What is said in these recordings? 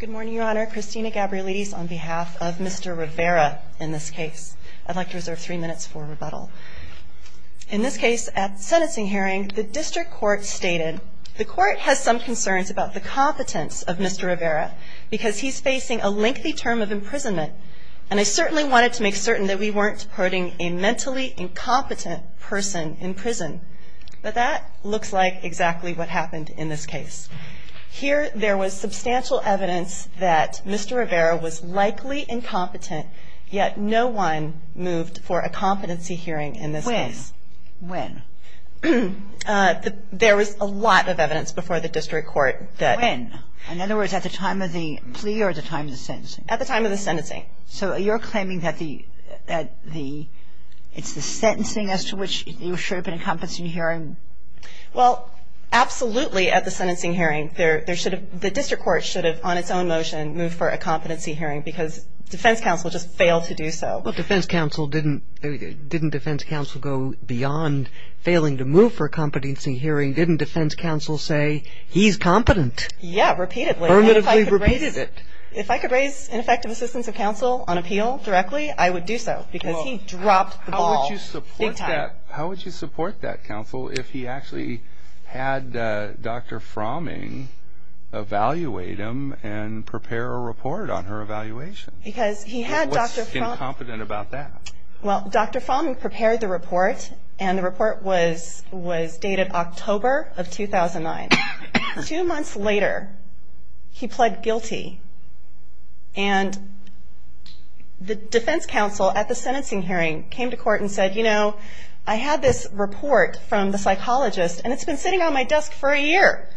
Good morning, Your Honor. Christina Gabrielides on behalf of Mr. Rivera in this case. I'd like to reserve three minutes for rebuttal. In this case, at sentencing hearing, the district court stated, The court has some concerns about the competence of Mr. Rivera because he's facing a lengthy term of imprisonment. And I certainly wanted to make certain that we weren't putting a mentally incompetent person in prison. But that looks like exactly what happened in this case. Here, there was substantial evidence that Mr. Rivera was likely incompetent, yet no one moved for a competency hearing in this case. When? When? There was a lot of evidence before the district court that When? In other words, at the time of the plea or at the time of the sentencing? At the time of the sentencing. So you're claiming that it's the sentencing as to which you should have been in competency hearing? Well, absolutely, at the sentencing hearing. The district court should have, on its own motion, moved for a competency hearing because defense counsel just failed to do so. But defense counsel didn't go beyond failing to move for a competency hearing. Didn't defense counsel say, he's competent? Yeah, repeatedly. Permittively repeated it. If I could raise ineffective assistance of counsel on appeal directly, I would do so because he dropped the ball big time. How would you support that counsel if he actually had Dr. Fromming evaluate him and prepare a report on her evaluation? Because he had Dr. Fromming What's incompetent about that? Well, Dr. Fromming prepared the report, and the report was dated October of 2009. Two months later, he pled guilty, and the defense counsel at the sentencing hearing came to court and said, you know, I had this report from the psychologist, and it's been sitting on my desk for a year.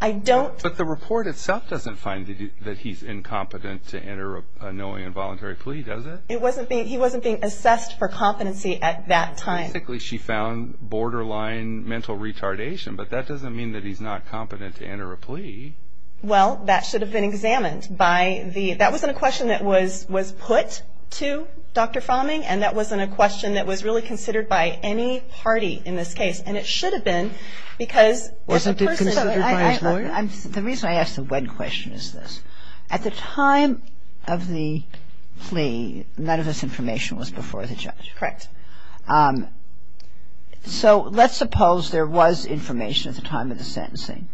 I don't But the report itself doesn't find that he's incompetent to enter a knowing and voluntary plea, does it? He wasn't being assessed for competency at that time. Basically, she found borderline mental retardation, but that doesn't mean that he's not competent to enter a plea. Well, that should have been examined by the That wasn't a question that was put to Dr. Fromming, and that wasn't a question that was really considered by any party in this case, and it should have been because Wasn't it considered by his lawyer? The reason I ask the when question is this. At the time of the plea, none of this information was before the judge. Correct. So let's suppose there was information at the time of the sentencing.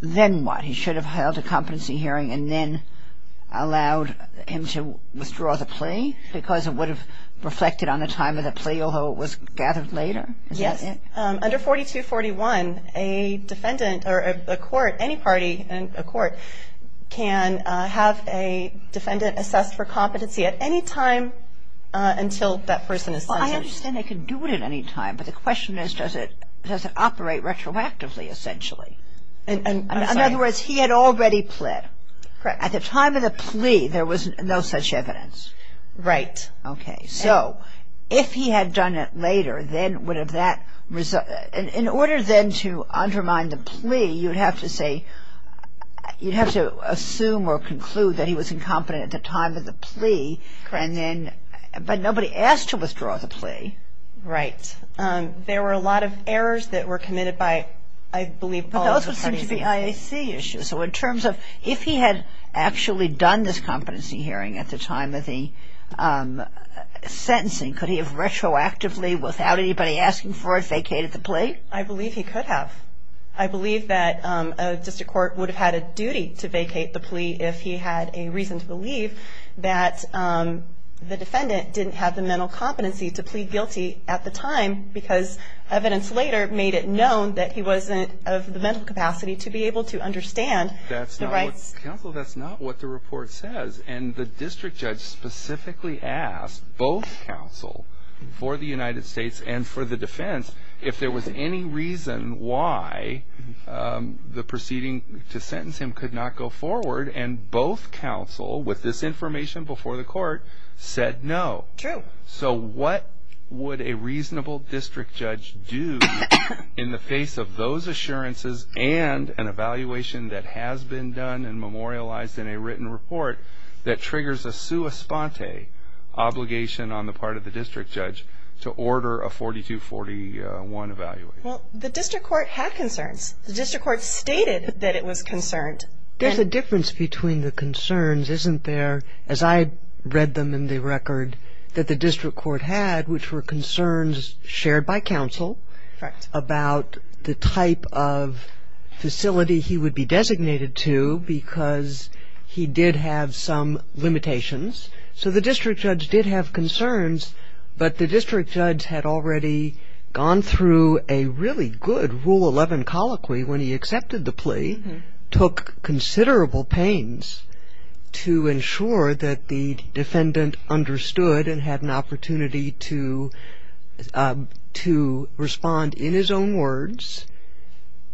Then what? He should have held a competency hearing and then allowed him to withdraw the plea because it would have reflected on the time of the plea, although it was gathered later. Yes. Under 4241, a defendant or a court, any party in a court, can have a defendant assessed for competency at any time until that person is sentenced. Well, I understand they can do it at any time, but the question is does it operate retroactively, essentially? In other words, he had already pled. Correct. At the time of the plea, there was no such evidence. Right. Yes. Okay. So if he had done it later, then would have that result In order then to undermine the plea, you'd have to say you'd have to assume or conclude that he was incompetent at the time of the plea. Correct. But nobody asked to withdraw the plea. Right. There were a lot of errors that were committed by, I believe, all of the parties. Those would seem to be IAC issues. So in terms of if he had actually done this competency hearing at the time of the sentencing, could he have retroactively, without anybody asking for it, vacated the plea? I believe he could have. I believe that a district court would have had a duty to vacate the plea if he had a reason to believe that the defendant didn't have the mental competency to plead guilty at the time because evidence later made it known that he wasn't of the mental capacity to be able to understand the rights. Counsel, that's not what the report says. And the district judge specifically asked both counsel for the United States and for the defense if there was any reason why the proceeding to sentence him could not go forward. And both counsel, with this information before the court, said no. True. So what would a reasonable district judge do in the face of those assurances and an evaluation that has been done and memorialized in a written report that triggers a sua sponte obligation on the part of the district judge to order a 4241 evaluation? Well, the district court had concerns. The district court stated that it was concerned. There's a difference between the concerns, isn't there, as I read them in the record, that the district court had, which were concerns shared by counsel. Right. About the type of facility he would be designated to because he did have some limitations. So the district judge did have concerns, but the district judge had already gone through a really good Rule 11 colloquy when he accepted the plea, took considerable pains to ensure that the defendant understood and had an opportunity to respond in his own words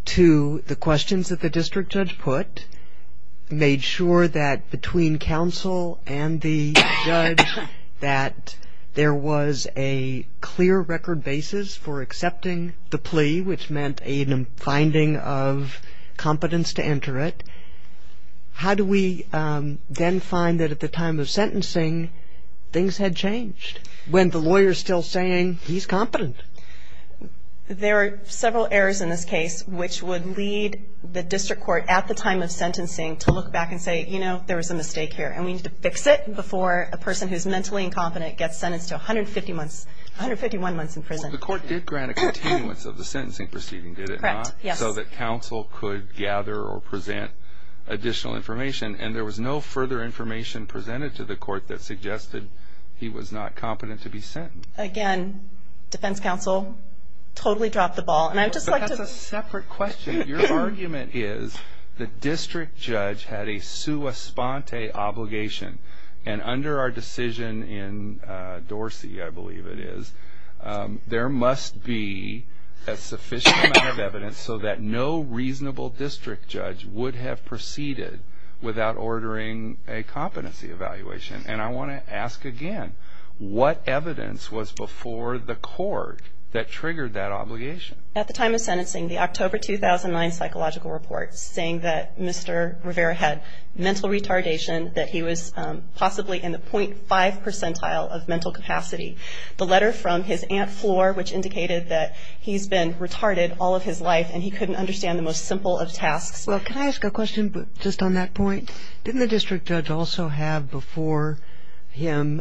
to the questions that the district judge put, made sure that between counsel and the judge that there was a clear record basis for accepting the plea, which meant a finding of competence to enter it. How do we then find that at the time of sentencing things had changed when the lawyer's still saying he's competent? There are several errors in this case which would lead the district court at the time of sentencing to look back and say, you know, there was a mistake here, and we need to fix it before a person who's mentally incompetent gets sentenced to 150 months, 151 months in prison. The court did grant a continuance of the sentencing proceeding, did it not? Correct, yes. So that counsel could gather or present additional information, and there was no further information presented to the court that suggested he was not competent to be sentenced. Again, defense counsel totally dropped the ball, and I'd just like to... That's a separate question. Your argument is the district judge had a sua sponte obligation, and under our decision in Dorsey, I believe it is, there must be a sufficient amount of evidence so that no reasonable district judge would have proceeded without ordering a competency evaluation. And I want to ask again, what evidence was before the court that triggered that obligation? At the time of sentencing, the October 2009 psychological report saying that Mr. Rivera had mental retardation, that he was possibly in the 0.5 percentile of mental capacity. The letter from his aunt Floor, which indicated that he's been retarded all of his life, and he couldn't understand the most simple of tasks. Well, can I ask a question just on that point? Didn't the district judge also have before him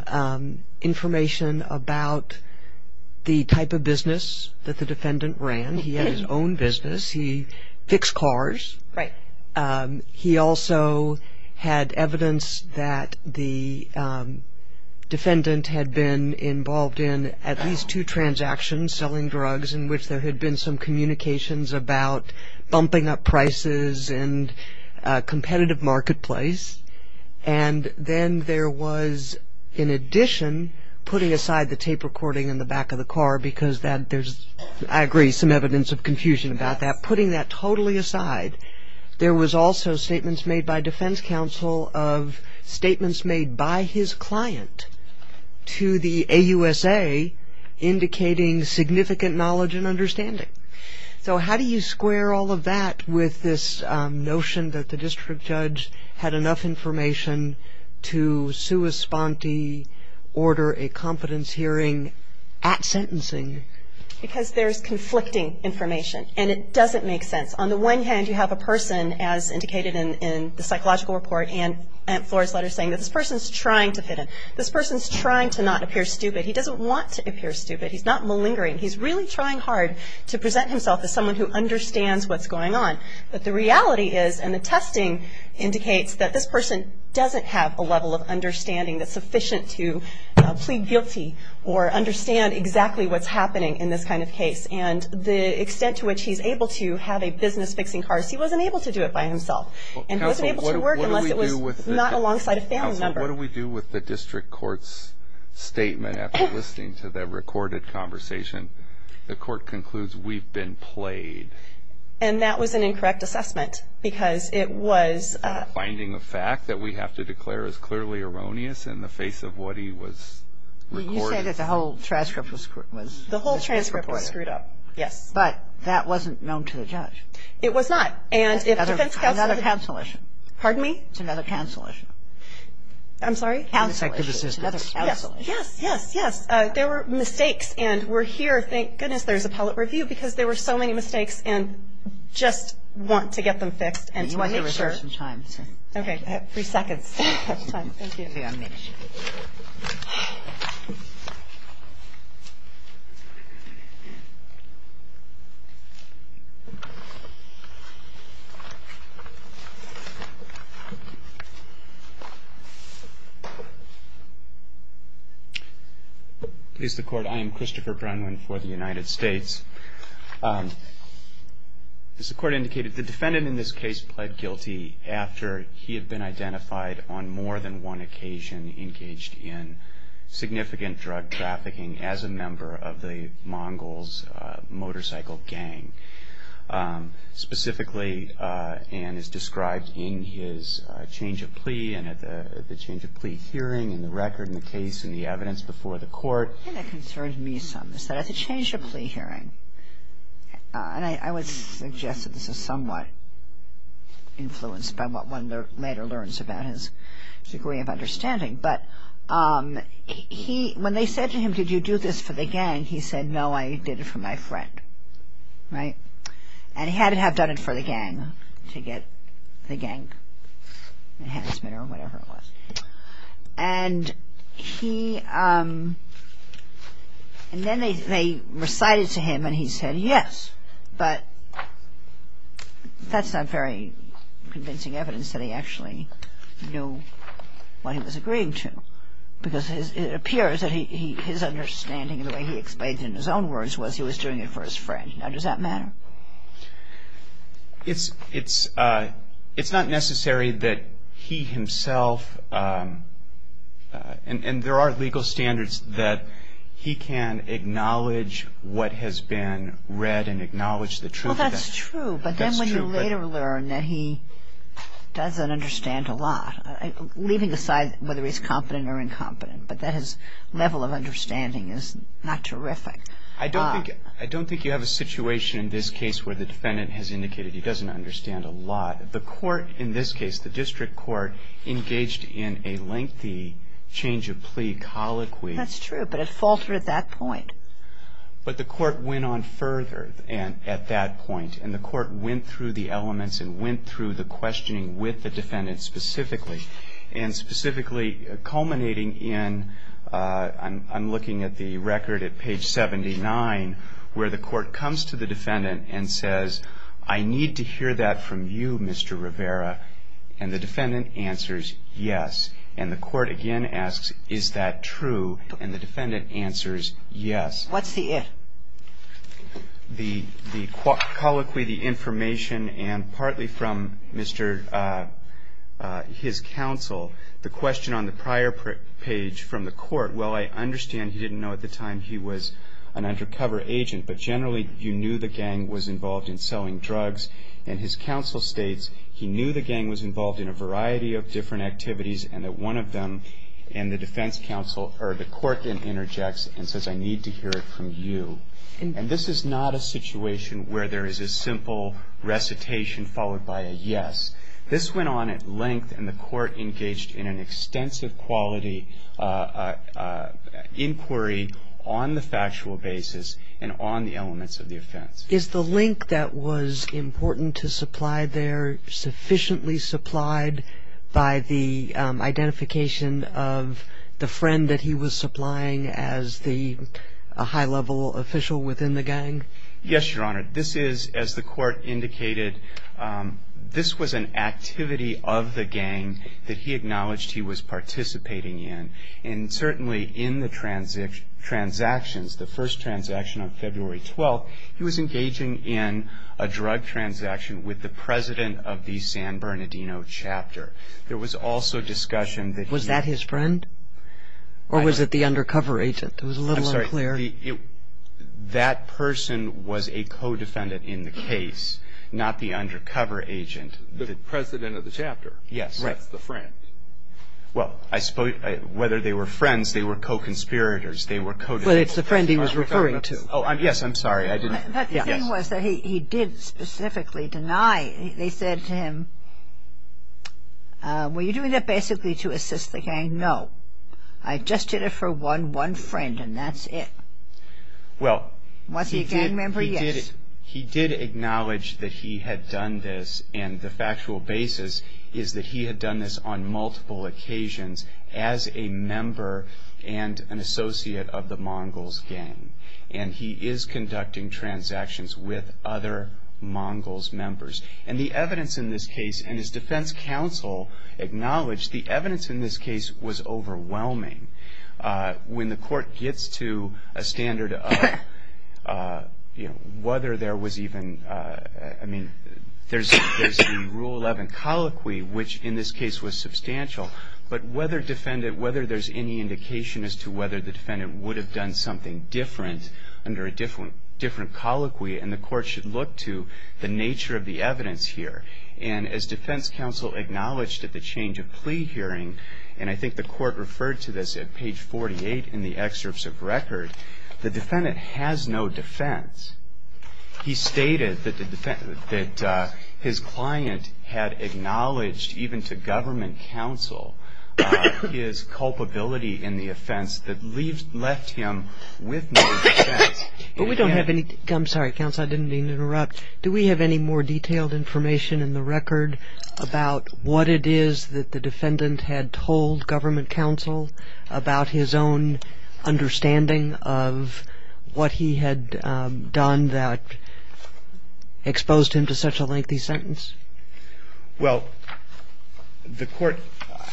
information about the type of business that the defendant ran? He had his own business. He fixed cars. Right. He also had evidence that the defendant had been involved in at least two transactions, selling drugs in which there had been some communications about bumping up prices and a competitive marketplace. And then there was, in addition, putting aside the tape recording in the back of the car because that there's, I agree, some evidence of confusion about that. But putting that totally aside, there was also statements made by defense counsel of statements made by his client to the AUSA, indicating significant knowledge and understanding. So how do you square all of that with this notion that the district judge had enough information to sua sponte order a competence hearing at sentencing? Because there's conflicting information, and it doesn't make sense. On the one hand, you have a person, as indicated in the psychological report and Flora's letter saying that this person's trying to fit in. This person's trying to not appear stupid. He doesn't want to appear stupid. He's not malingering. He's really trying hard to present himself as someone who understands what's going on. But the reality is, and the testing indicates, that this person doesn't have a level of understanding that's sufficient to plead guilty or understand exactly what's happening in this kind of case. And the extent to which he's able to have a business fixing cars, he wasn't able to do it by himself. And he wasn't able to work unless it was not alongside a family member. Counsel, what do we do with the district court's statement after listening to the recorded conversation? The court concludes we've been played. And that was an incorrect assessment because it was. Finding a fact that we have to declare is clearly erroneous in the face of what he was recording. You say that the whole transcript was. The whole transcript was screwed up. Yes. But that wasn't known to the judge. It was not. And if defense counsel. It's another counsel issue. Pardon me? It's another counsel issue. I'm sorry? Counsel issue. It's another counsel issue. Yes, yes, yes. There were mistakes. And we're here, thank goodness there's appellate review because there were so many mistakes and just want to get them fixed and to make sure. We have some time. Okay. Three seconds. We have time. Thank you. I'll be on mute. Please, the court. I am Christopher Brennan for the United States. As the court indicated, the defendant in this case pled guilty after he had been identified on more than one occasion engaged in significant drug trafficking as a member of the Mongols motorcycle gang. Specifically, and as described in his change of plea and at the change of plea hearing and the record and the case and the evidence before the court. And it concerns me some is that at the change of plea hearing, and I would suggest that this is somewhat influenced by what one later learns about his degree of understanding, but when they said to him, did you do this for the gang, he said, no, I did it for my friend. Right? And he had to have done it for the gang to get the gang enhancement or whatever it was. And he, and then they recited to him and he said, yes. But that's not very convincing evidence that he actually knew what he was agreeing to. Because it appears that his understanding and the way he explained it in his own words was he was doing it for his friend. Now, does that matter? It's not necessary that he himself, and there are legal standards that he can acknowledge what has been read and acknowledge the truth of that. Well, that's true, but then when you later learn that he doesn't understand a lot, leaving aside whether he's competent or incompetent, but that his level of understanding is not terrific. I don't think you have a situation in this case where the defendant has indicated he doesn't understand a lot. The court in this case, the district court, engaged in a lengthy change of plea colloquy. That's true, but it faltered at that point. But the court went on further at that point, and the court went through the elements and went through the questioning with the defendant specifically. And specifically culminating in, I'm looking at the record at page 79, where the court comes to the defendant and says, I need to hear that from you, Mr. Rivera. And the defendant answers, yes. And the court again asks, is that true? And the defendant answers, yes. What's the if? The colloquy, the information, and partly from his counsel, the question on the prior page from the court, well, I understand he didn't know at the time he was an undercover agent, but generally you knew the gang was involved in selling drugs. And his counsel states he knew the gang was involved in a variety of different activities, and that one of them, and the defense counsel, or the court then interjects and says, I need to hear it from you. And this is not a situation where there is a simple recitation followed by a yes. This went on at length, and the court engaged in an extensive quality inquiry on the factual basis and on the elements of the offense. Is the link that was important to supply there sufficiently supplied by the identification of the friend that he was supplying as the high-level official within the gang? Yes, Your Honor. This is, as the court indicated, this was an activity of the gang that he acknowledged he was participating in. And certainly in the transactions, the first transaction on February 12th, he was engaging in a drug transaction with the president of the San Bernardino chapter. There was also discussion that he Was that his friend? Or was it the undercover agent? It was a little unclear. I'm sorry. That person was a co-defendant in the case, not the undercover agent. The president of the chapter. Yes. That's the friend. Well, I suppose whether they were friends, they were co-conspirators. They were co- But it's the friend he was referring to. Oh, yes. I'm sorry. I didn't Were you doing that basically to assist the gang? No. I just did it for one friend, and that's it. Well, he did Was he a gang member? Yes. He did acknowledge that he had done this, and the factual basis is that he had done this on multiple occasions as a member and an associate of the Mongols gang. And he is conducting transactions with other Mongols members. And the evidence in this case, and his defense counsel acknowledged the evidence in this case was overwhelming. When the court gets to a standard of whether there was even, I mean, there's the Rule 11 colloquy, which in this case was substantial. But whether there's any indication as to whether the defendant would have done something different under a different colloquy, and the court should look to the nature of the evidence here. And as defense counsel acknowledged at the change of plea hearing, and I think the court referred to this at page 48 in the excerpts of record, the defendant has no defense. He stated that his client had acknowledged even to government counsel his culpability in the offense that left him with no defense. But we don't have any, I'm sorry, counsel, I didn't mean to interrupt. Do we have any more detailed information in the record about what it is that the defendant had told government counsel about his own understanding of what he had done that exposed him to such a lengthy sentence? Well, the court,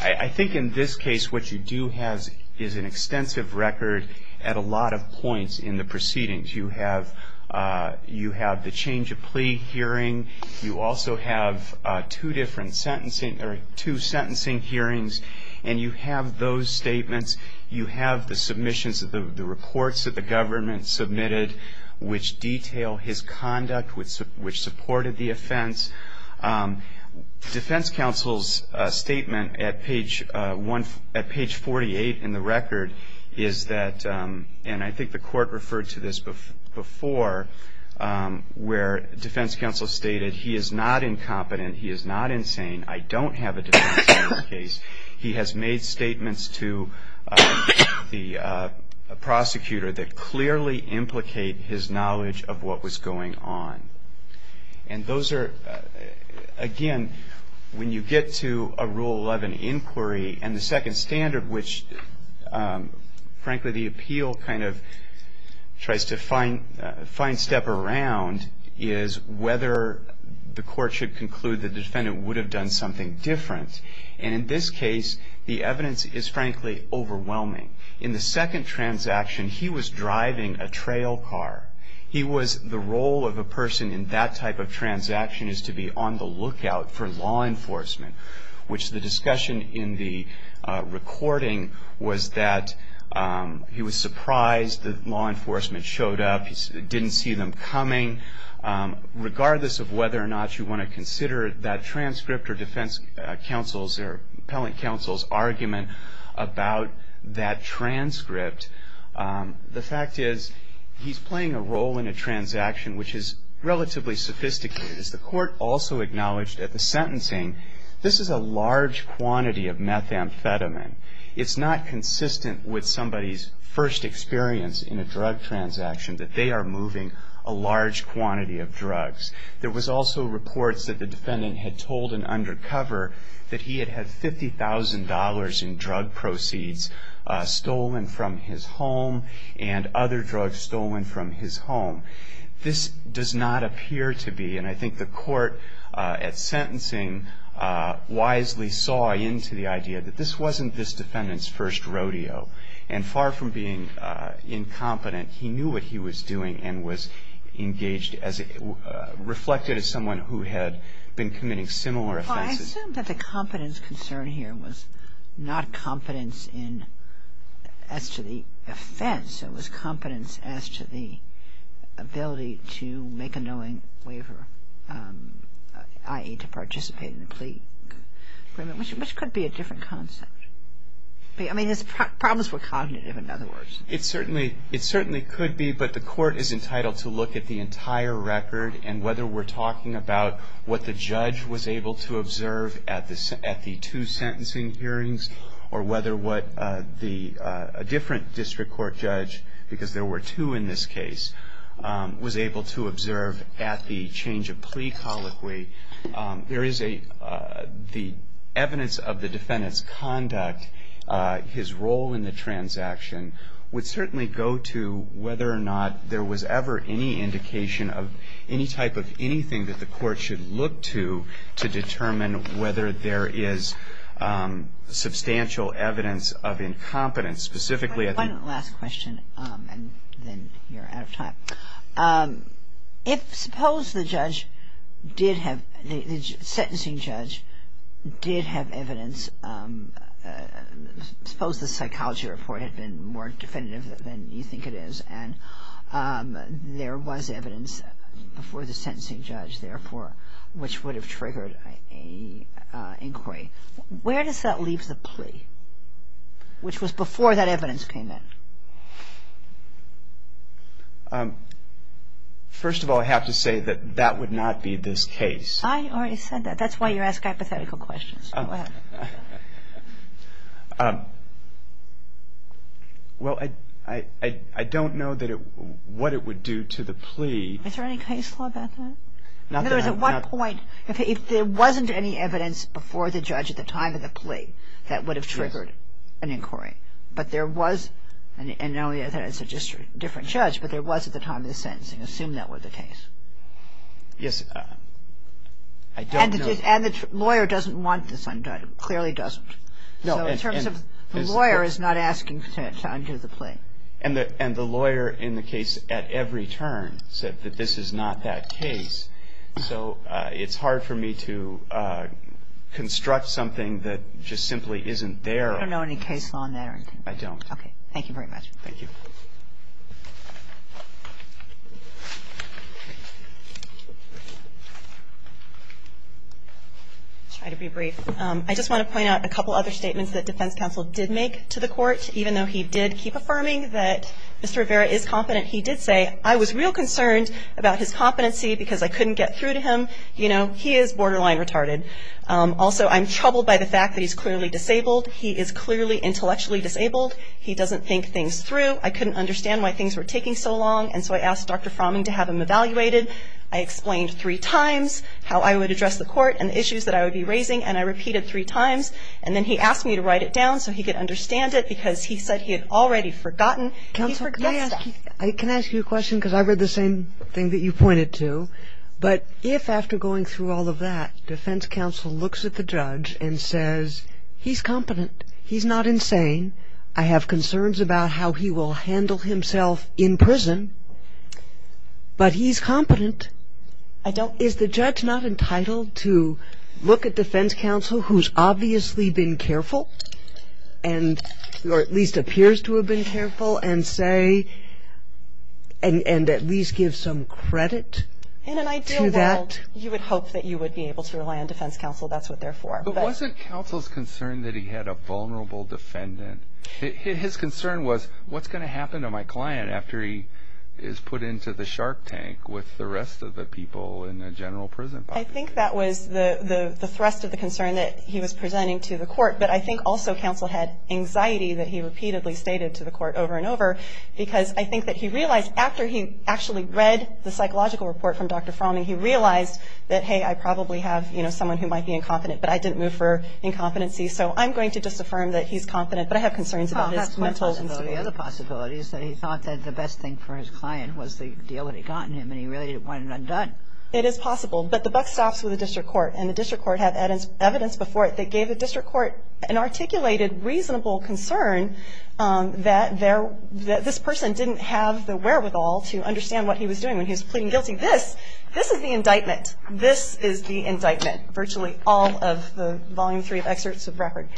I think in this case what you do have is an extensive record at a lot of points in the proceedings. You have the change of plea hearing. You also have two different sentencing, or two sentencing hearings, and you have those statements. You have the submissions of the reports that the government submitted, which detail his conduct, which supported the offense. Defense counsel's statement at page 48 in the record is that, and I think the court referred to this before, where defense counsel stated he is not incompetent, he is not insane, I don't have a defense in this case. He has made statements to the prosecutor that clearly implicate his knowledge of what was going on. And those are, again, when you get to a Rule 11 inquiry, and the second standard which, frankly, the appeal kind of tries to fine step around, is whether the court should conclude the defendant would have done something different. And in this case, the evidence is, frankly, overwhelming. In the second transaction, he was driving a trail car. He was, the role of a person in that type of transaction is to be on the lookout for law enforcement, which the discussion in the recording was that he was surprised that law enforcement showed up, didn't see them coming. Regardless of whether or not you want to consider that transcript or defense counsel's or appellate counsel's argument about that transcript, the fact is he's playing a role in a transaction which is relatively sophisticated. As the court also acknowledged at the sentencing, this is a large quantity of methamphetamine. It's not consistent with somebody's first experience in a drug transaction that they are moving a large quantity of drugs. There was also reports that the defendant had told an undercover that he had had $50,000 in drug proceeds stolen from his home and other drugs stolen from his home. This does not appear to be, and I think the court at sentencing wisely saw into the idea, that this wasn't this defendant's first rodeo. And far from being incompetent, he knew what he was doing and was engaged as, reflected as someone who had been committing similar offenses. I assume that the competence concern here was not competence as to the offense. It was competence as to the ability to make a knowing waiver, i.e., to participate in the plea agreement, which could be a different concept. I mean, his problems were cognitive, in other words. It certainly could be, but the court is entitled to look at the entire record and whether we're talking about what the judge was able to observe at the two sentencing hearings or whether what a different district court judge, because there were two in this case, was able to observe at the change of plea colloquy. The evidence of the defendant's conduct, his role in the transaction, would certainly go to whether or not there was ever any indication of any type of anything that the court should look to to determine whether there is substantial evidence of incompetence. Specifically, I think- One last question, and then you're out of time. If suppose the judge did have, the sentencing judge did have evidence, suppose the psychology report had been more definitive than you think it is and there was evidence before the sentencing judge, therefore, which would have triggered an inquiry, where does that leave the plea, which was before that evidence came in? First of all, I have to say that that would not be this case. I already said that. That's why you ask hypothetical questions. Go ahead. Well, I don't know what it would do to the plea. Is there any case law about that? In other words, at what point, if there wasn't any evidence before the judge at the time of the plea that would have triggered an inquiry, but there was, and I know that it's a different judge, but there was at the time of the sentencing, assume that were the case. Yes. I don't know. And the lawyer doesn't want this undone, clearly doesn't. No. So in terms of the lawyer is not asking to undo the plea. And the lawyer in the case at every turn said that this is not that case. So it's hard for me to construct something that just simply isn't there. You don't know any case law on that or anything? I don't. Okay. Thank you very much. Thank you. I'll try to be brief. I just want to point out a couple other statements that defense counsel did make to the court. Even though he did keep affirming that Mr. Rivera is competent, he did say, I was real concerned about his competency because I couldn't get through to him. You know, he is borderline retarded. Also, I'm troubled by the fact that he's clearly disabled. He is clearly intellectually disabled. He doesn't think things through. I couldn't understand why things were taking so long. And so I asked Dr. Fromming to have him evaluated. I explained three times how I would address the court and the issues that I would be raising. And I repeated three times. And then he asked me to write it down so he could understand it because he said he had already forgotten. Counselor, can I ask you a question? Because I read the same thing that you pointed to. But if after going through all of that, defense counsel looks at the judge and says, he's competent, he's not insane, I have concerns about how he will handle himself in prison, but he's competent, is the judge not entitled to look at defense counsel who's obviously been careful or at least appears to have been careful and say, and at least give some credit to that? In an ideal world, you would hope that you would be able to rely on defense counsel. That's what they're for. But wasn't counsel's concern that he had a vulnerable defendant? His concern was what's going to happen to my client after he is put into the shark tank with the rest of the people in the general prison population? I think that was the thrust of the concern that he was presenting to the court. But I think also counsel had anxiety that he repeatedly stated to the court over and over because I think that he realized after he actually read the psychological report from Dr. Fromming, he realized that, hey, I probably have someone who might be incompetent, but I didn't move for incompetency, so I'm going to just affirm that he's competent, but I have concerns about his mental instability. Well, that's one possibility. The other possibility is that he thought that the best thing for his client was to deal with it, gotten him, and he really wanted it undone. It is possible, but the buck stops with the district court, and the district court had evidence before it that gave the district court an articulated, reasonable concern that this person didn't have the wherewithal to understand what he was doing when he was pleading guilty. This, this is the indictment. Virtually all of the volume three of excerpts of record.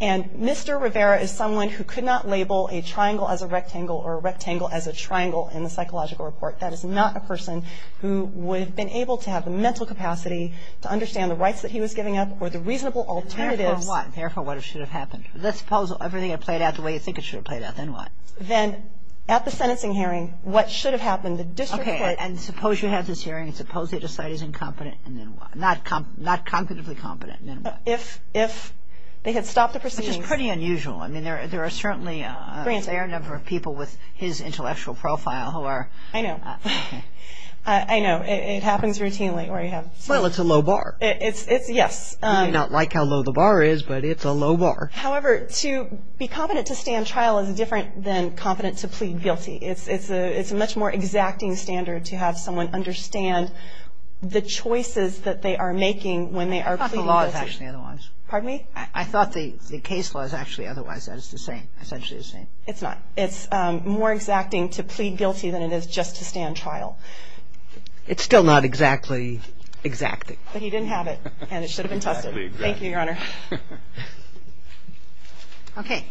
And Mr. Rivera is someone who could not label a triangle as a rectangle or a rectangle as a triangle in the psychological report. That is not a person who would have been able to have the mental capacity to understand the rights that he was giving up or the reasonable alternatives. Therefore, what? Therefore, what should have happened? Let's suppose everything had played out the way you think it should have played out. Then what? Then at the sentencing hearing, what should have happened? The district court. Okay. And suppose you have this hearing. Suppose they decide he's incompetent. And then what? Not cognitively competent. And then what? If they had stopped the proceedings. Which is pretty unusual. I mean, there are certainly a fair number of people with his intellectual profile who are. I know. I know. It happens routinely where you have. Well, it's a low bar. It's, yes. You may not like how low the bar is, but it's a low bar. However, to be competent to stand trial is different than competent to plead guilty. It's a much more exacting standard to have someone understand the choices that they are making when they are pleading guilty. I thought the law was actually otherwise. Pardon me? I thought the case law is actually otherwise. It's the same. It's actually the same. It's not. It's more exacting to plead guilty than it is just to stand trial. It's still not exactly exacting. But he didn't have it. And it should have been tested. Thank you, Your Honor. Okay.